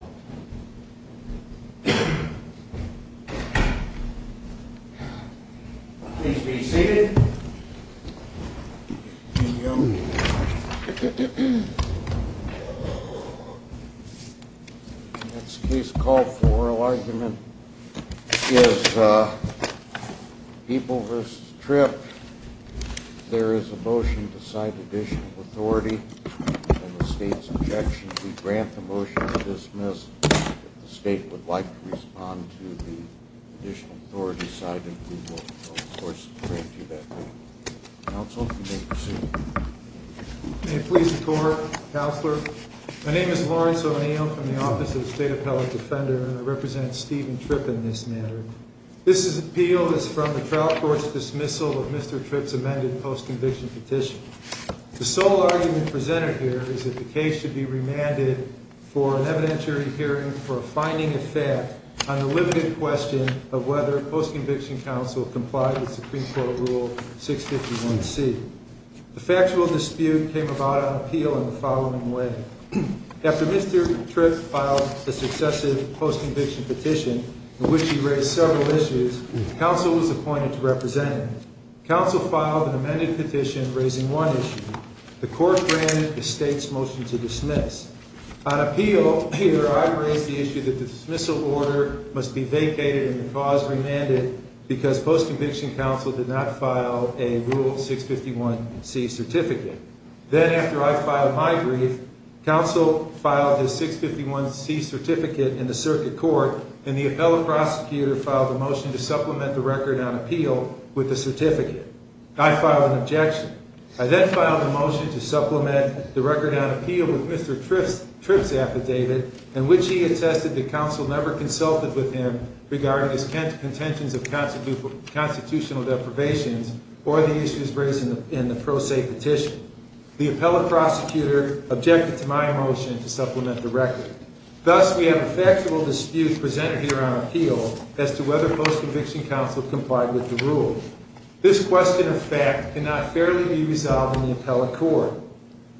The next case called for oral argument is People v. Tripp. There is a motion to cite additional authority and the state's objection. We grant the motion to dismiss. If the state would like to respond to the additional authority cited, we will, of course, grant you that motion. Counsel, you may proceed. Lawrence O'Neill May I please report, Counselor? My name is Lawrence O'Neill from the Office of the State Appellate Defender, and I represent Stephen Tripp in this matter. This appeal is from the trial court's dismissal of Mr. Tripp's amended post-conviction petition. The sole argument presented here is that the case should be remanded for an evidentiary hearing for a finding of fact on the limited question of whether a post-conviction counsel complied with Supreme Court Rule 651C. The factual dispute came about on appeal in the following way. After Mr. Tripp filed a successive post-conviction petition in which he raised several issues, counsel was appointed to represent him. Counsel filed an amended petition raising one issue. The court granted the state's motion to dismiss. On appeal, here I raise the issue that the dismissal order must be vacated and the clause remanded because post-conviction counsel did not file a Rule 651C certificate. Then, after I filed my brief, counsel filed his 651C certificate in the circuit court, and the appellate prosecutor filed a motion to supplement the record on appeal with the certificate. I filed an objection. I then filed a motion to supplement the record on appeal with Mr. Tripp's affidavit, in which he attested that counsel never consulted with him regarding his contentions of constitutional deprivations or the issues raised in the pro se petition. The appellate prosecutor objected to my motion to supplement the record. Thus, we have a factual dispute presented here on appeal as to whether post-conviction counsel complied with the rule. This question of fact cannot fairly be resolved in the appellate court.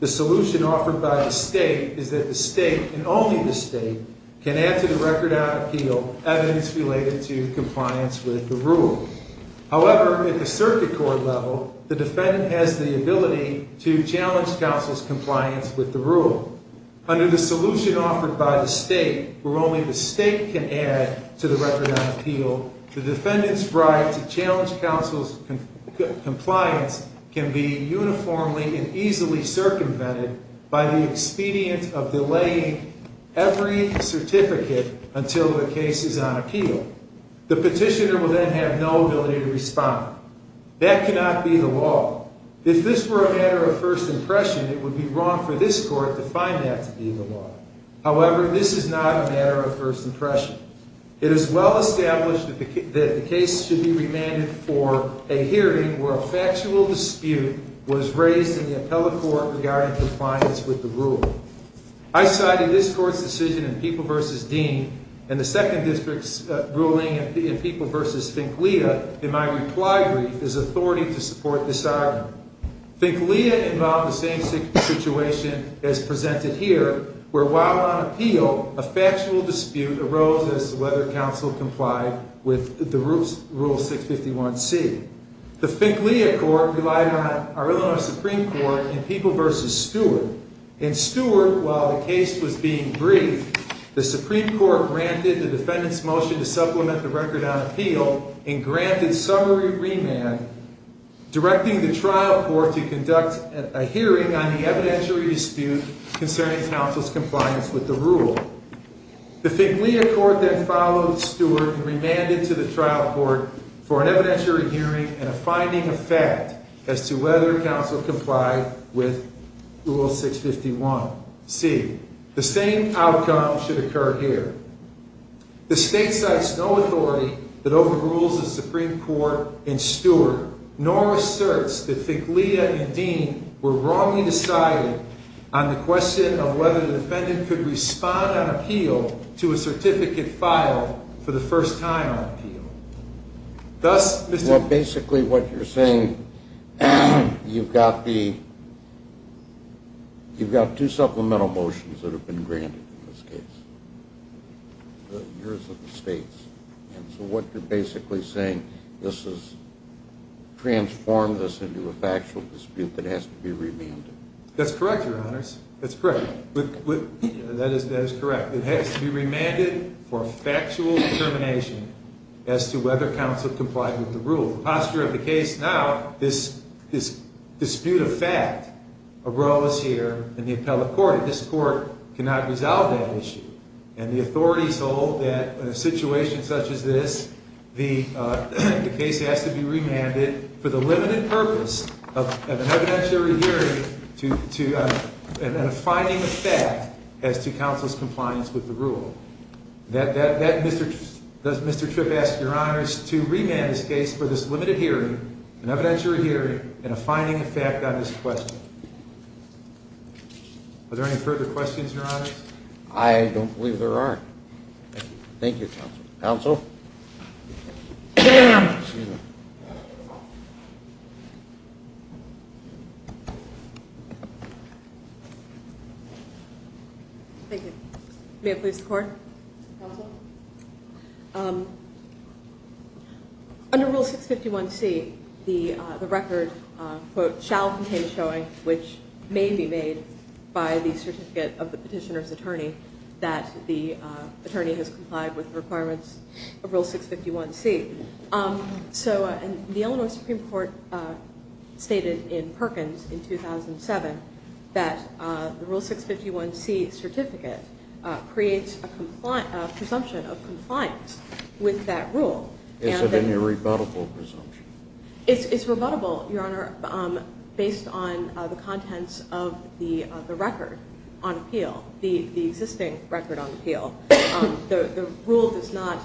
The solution offered by the state is that the state, and only the state, can add to the record on appeal evidence related to compliance with the rule. However, at the circuit court level, the defendant has the Under the solution offered by the state, where only the state can add to the record on appeal, the defendant's right to challenge counsel's compliance can be uniformly and easily circumvented by the expedient of delaying every certificate until the case is on appeal. The petitioner will then have no ability to respond. That cannot be the law. If this were a matter of first impression, it would be wrong for this court to find that to be the law. However, this is not a matter of first impression. It is well established that the case should be remanded for a hearing where a factual dispute was raised in the appellate court regarding compliance with the rule. I cited this court's decision in People v. Dean and the Second District's ruling in People v. Finkleya in my reply brief as authority to support this argument. Finkleya involved the same situation as presented here, where while on appeal, a factual dispute arose as to whether counsel complied with the rule 651C. The Finkleya court relied on our Illinois Supreme Court in People v. Stewart. In Stewart, while the case was being briefed, the Supreme Court granted the defendant's motion to supplement the record on appeal and granted summary remand, directing the trial court to conduct a hearing on the evidentiary dispute concerning counsel's compliance with the rule. The Finkleya court then followed Stewart and remanded to the trial court for an evidentiary hearing and a finding of fact as to whether counsel complied with Rule 651C. The same outcome should occur here. The state cites no authority that overrules the Supreme Court in Stewart nor asserts that Finkleya and Dean were wrongly decided on the question of whether the defendant could respond on appeal to a certificate filed for the first time on appeal. Thus, Mr. Well, basically what you're saying, you've got the, you've got two supplemental motions that have been granted in this case. The years of the states. And so what you're basically saying, this has transformed this into a factual dispute that has to be remanded. That's correct, your honors. That's correct. That is correct. It has to be remanded for factual determination as to whether counsel complied with the rule. The posture of the case now, this dispute of fact arose here in the appellate court. This court cannot resolve that issue. And the authorities hold that in a situation such as this, the case has to be remanded for the limited purpose of an evidentiary hearing and a finding of fact as to counsel's compliance with the rule. Does Mr. Tripp ask your honors to remand this case for this limited hearing, an evidentiary hearing, and a finding of fact on this question? Are there any further questions, your honors? I don't believe there are. Thank you, counsel. Thank you. May it please the court. Counsel? Under Rule 651C, the record, quote, shall contain showing which may be made by the certificate of the petitioner's attorney that the attorney has complied with requirements of Rule 651C. So the Illinois Supreme Court stated in Perkins in 2007 that the Rule 651C certificate creates a presumption of compliance with that rule. Is it any rebuttable presumption? It's rebuttable, your honor, based on the contents of the record on appeal, the existing record on appeal. The rule does not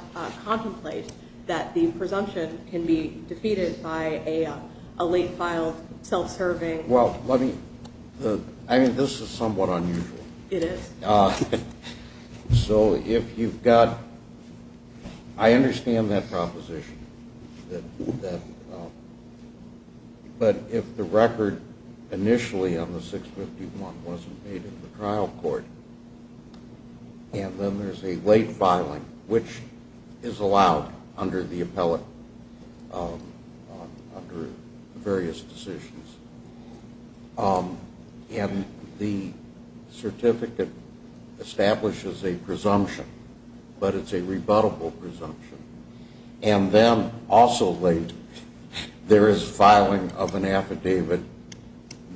contemplate that the presumption can be defeated by a late self-serving. Well, let me, I mean, this is somewhat unusual. It is. So if you've got, I understand that proposition. But if the record initially on the 651 wasn't made in the trial court, and then there's a late filing, which is allowed under the appellate, under various decisions, and the certificate establishes a presumption, but it's a rebuttable presumption, and then also late, there is filing of an affidavit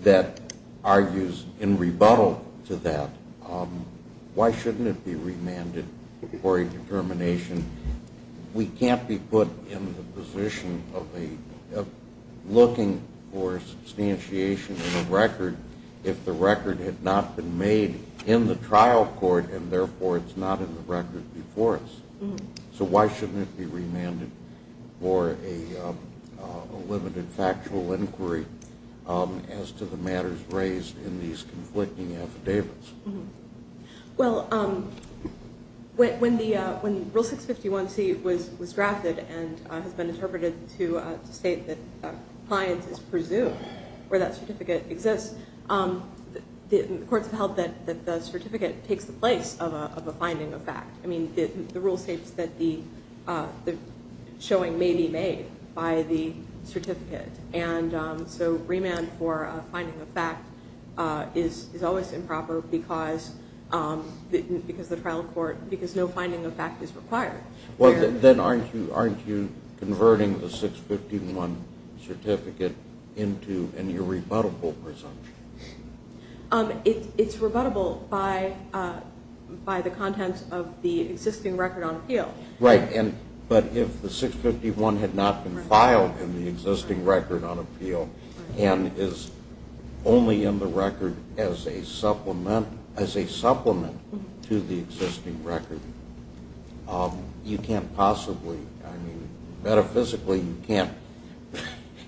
that argues in rebuttal to that, why shouldn't it be remanded for a determination? We can't be put in the position of looking for substantiation in the record if the record had not been made in the trial court, and therefore it's not in the record before us. So why shouldn't it be remanded for a limited factual inquiry as to the matters raised in these conflicting cases? The 651C was drafted and has been interpreted to state that compliance is presumed where that certificate exists. The courts have held that the certificate takes the place of a finding of fact. I mean, the rule states that the showing may be made by the certificate. And so remand for a finding of fact is always improper because the trial court, because no finding of fact. Well, then aren't you converting the 651 certificate into a new rebuttable presumption? It's rebuttable by the contents of the existing record on appeal. Right, but if the 651 had not been filed in the existing record on appeal and is only in the record as a supplement to the 651, you can't possibly, I mean, metaphysically you can't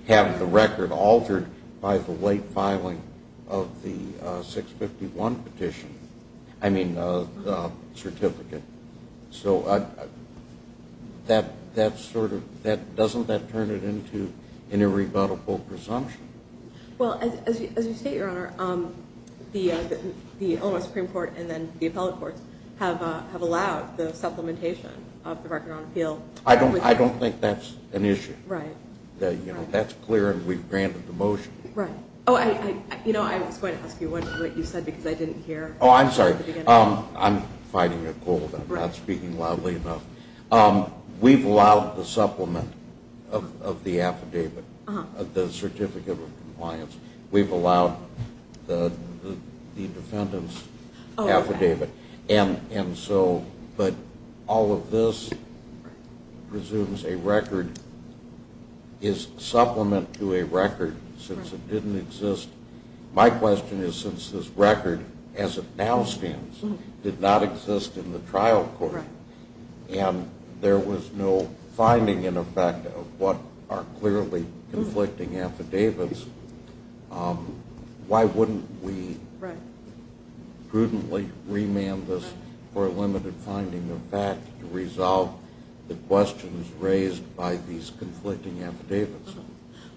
have the record altered by the late filing of the 651 petition, I mean the certificate. So that sort of, doesn't that turn it into an irrebuttable presumption? Well, as you state, Your Honor, the Illinois Supreme Court and then the appellate courts have allowed the supplementation of the record on appeal. I don't think that's an issue. Right. That's clear and we've granted the motion. Right. Oh, I was going to ask you what you said because I didn't hear. Oh, I'm sorry. I'm fighting a cold. I'm not speaking loudly enough. We've allowed the supplement of the affidavit, the certificate of compliance. We've allowed the defendant's affidavit and so, but all of this presumes a record is supplement to a record since it didn't exist. My question is since this record as it now stands did not exist in the trial court and there was no finding in effect of what are clearly conflicting affidavits, why wouldn't we prudently remand this for a limited finding of fact to resolve the questions raised by these conflicting affidavits?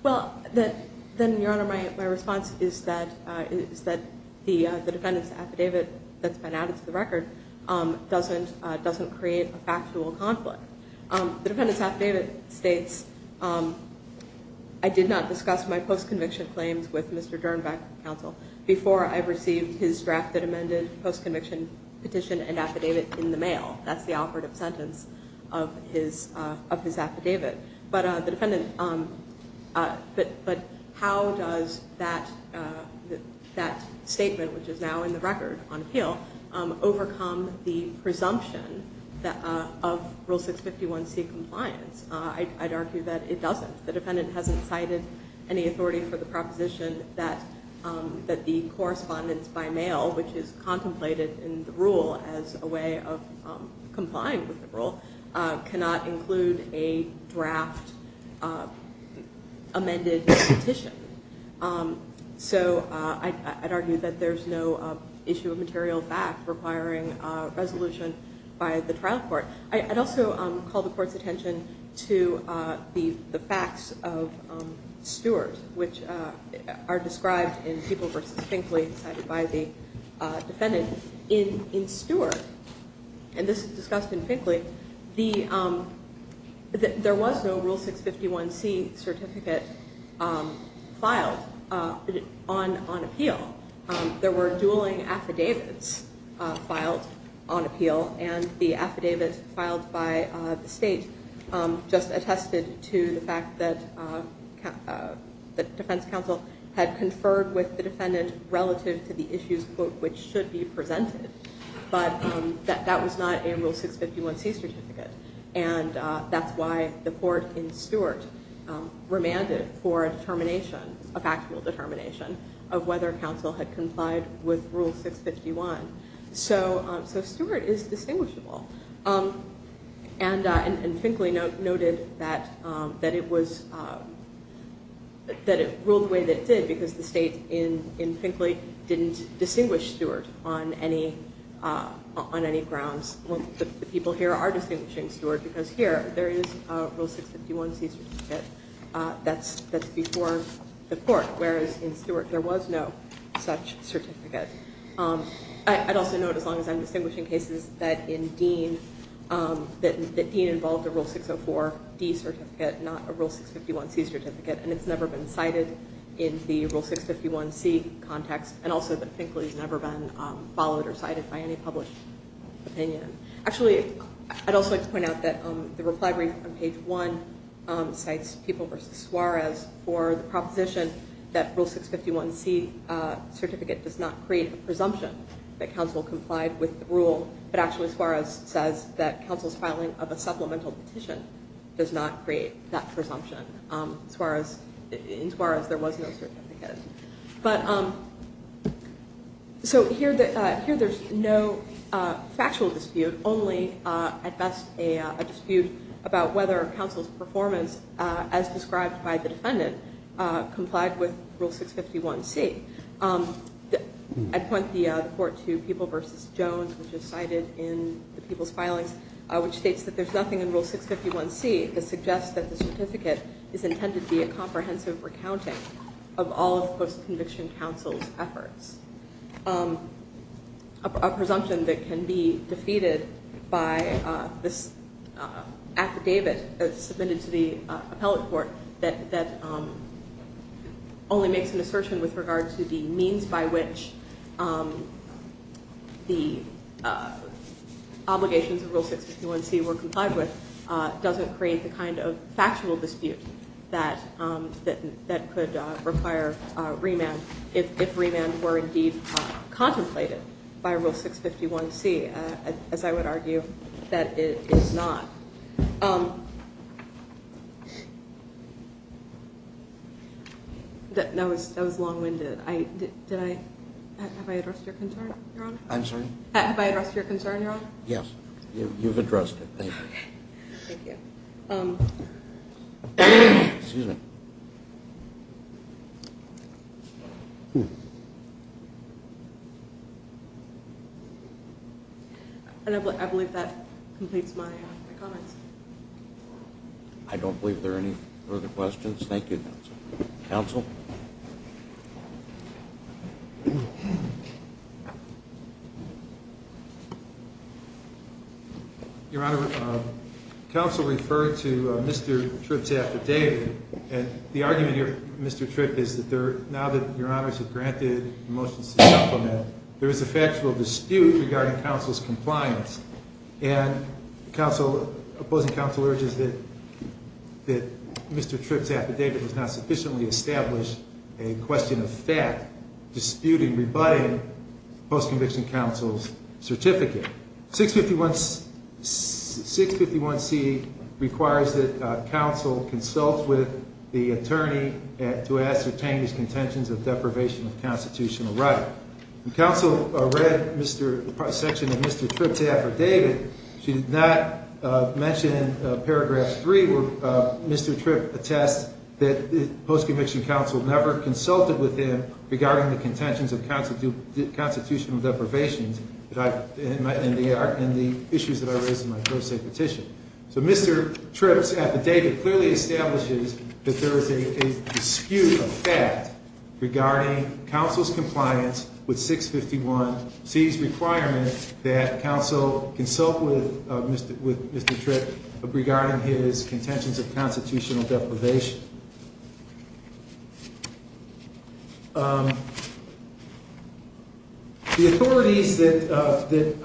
Well, then, Your Honor, my response is that the defendant's affidavit that's been added to the record doesn't create a factual conflict. The defendant's affidavit states, I did not discuss my post-conviction claims with Mr. Dernbeck, counsel, before I received his drafted amended post-conviction petition and affidavit in the mail. That's the operative sentence of his affidavit. But the defendant, but how does that statement, which is now in the record on appeal, overcome the presumption that of Rule 651C compliance? I'd argue that it doesn't. The defendant hasn't cited any authority for the proposition that the correspondence by mail, which is contemplated in the rule as a way of complying with the rule, cannot include a draft amended petition. So I'd argue that there's no issue of material fact requiring resolution by the trial court. I'd also call the court's attention to the facts of Stewart, which are described in Peeble v. Finkley, cited by the defendant. In Stewart, and this is discussed in Finkley, there was no Rule 651C certificate filed on appeal. There were dueling affidavits filed on appeal, and the affidavit filed by the state just attested to the fact that the defense counsel had conferred with the defendant relative to the issues, which should be presented. But that was not in Rule 651C certificate. And that's why the court in Stewart remanded for a determination, a factual determination, of whether counsel had complied with Rule 651. So Stewart is distinguishable. And Finkley noted that it was, that it ruled the way that it did because the state in Finkley didn't distinguish Stewart on any grounds. The people here are distinguishing Stewart because here there is a Rule 651C certificate that's before the court, whereas in Stewart there was no such certificate. I'd also note, as long as I'm distinguishing cases, that in Dean, that Dean involved a Rule 604D certificate, not a Rule 651C certificate, and it's never been cited in the Rule 651C context, and also that Finkley's never been followed or cited by any published opinion. Actually, I'd also like to point out that the reply brief on page one cites People v. Suarez for the proposition that Rule 651C certificate does not create a presumption that counsel complied with the rule, but actually Suarez says that counsel's filing of a supplemental petition does not create that presumption. In Suarez there was no certificate. So here there's no factual dispute, only at best a dispute about whether counsel's performance as described by the defendant complied with Rule 651C. I'd point the court to People v. Jones, which is cited in the people's filings, which states that there's nothing in Rule 651C that suggests that the certificate is intended to be a comprehensive recounting of all of post-conviction counsel's efforts. A presumption that can be defeated by this affidavit submitted to the appellate court that only makes an assertion with regard to the means by which the obligations of Rule 651C were complied with doesn't create the kind of factual dispute that could require remand if remand were indeed contemplated by Rule 651C, as I would argue that it is not. That was long-winded. Have I addressed your concern, Your Honor? I'm sorry? Have I addressed your concern, Your Honor? Yes, you've addressed it. Thank you. Okay, thank you. Excuse me. I believe that completes my comments. I don't believe there are any further questions. Thank you, counsel. Your Honor, counsel referred to Mr. Tripp's affidavit, and the argument here, Mr. Tripp, is that now that Your Honors have granted the motions to supplement, there is a factual dispute regarding counsel's compliance. And the opposing counsel urges that Mr. Tripp's affidavit was not sufficiently established, and that there is a factual dispute regarding a question of fact disputing, rebutting post-conviction counsel's certificate. 651C requires that counsel consult with the attorney to ascertain his contentions of deprivation of constitutional right. When counsel read the section of Mr. Tripp's affidavit, she did not mention paragraph 3, where Mr. Tripp attests that post-conviction counsel never consulted with him regarding the contentions of constitutional deprivations and the issues that I raised in my pro se petition. So Mr. Tripp's affidavit clearly establishes that there is a dispute of fact regarding counsel's compliance with 651C's consult with Mr. Tripp regarding his contentions of constitutional deprivation. The authorities that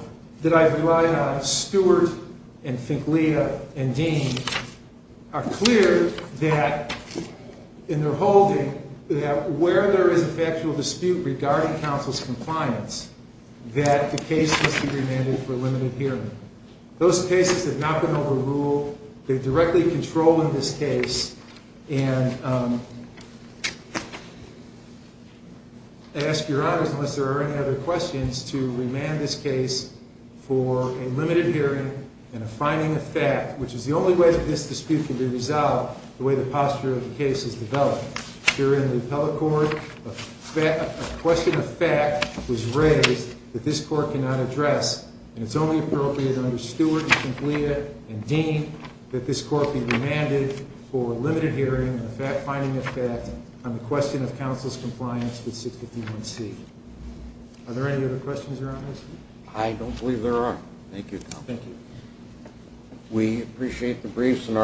I've relied on, Stewart and Finkleya and Dean, are clear that in their holding that where there is a factual dispute regarding counsel's compliance, that the case must be remanded for limited hearing. Those cases have not been overruled. They directly control in this case, and I ask your honors, unless there are any other questions, to remand this case for a limited hearing and a finding of fact, which is the only way that this dispute can be resolved the way the posture of the case is developed. Here in the appellate court, a question of fact was raised that this court cannot address, and it's only appropriate under Stewart and Finkleya and Dean that this court be remanded for a limited hearing and a finding of fact on the question of counsel's compliance with 651C. Are there any other questions, your honors? I don't believe there are. Thank you. Thank you. We appreciate the briefs and thank you.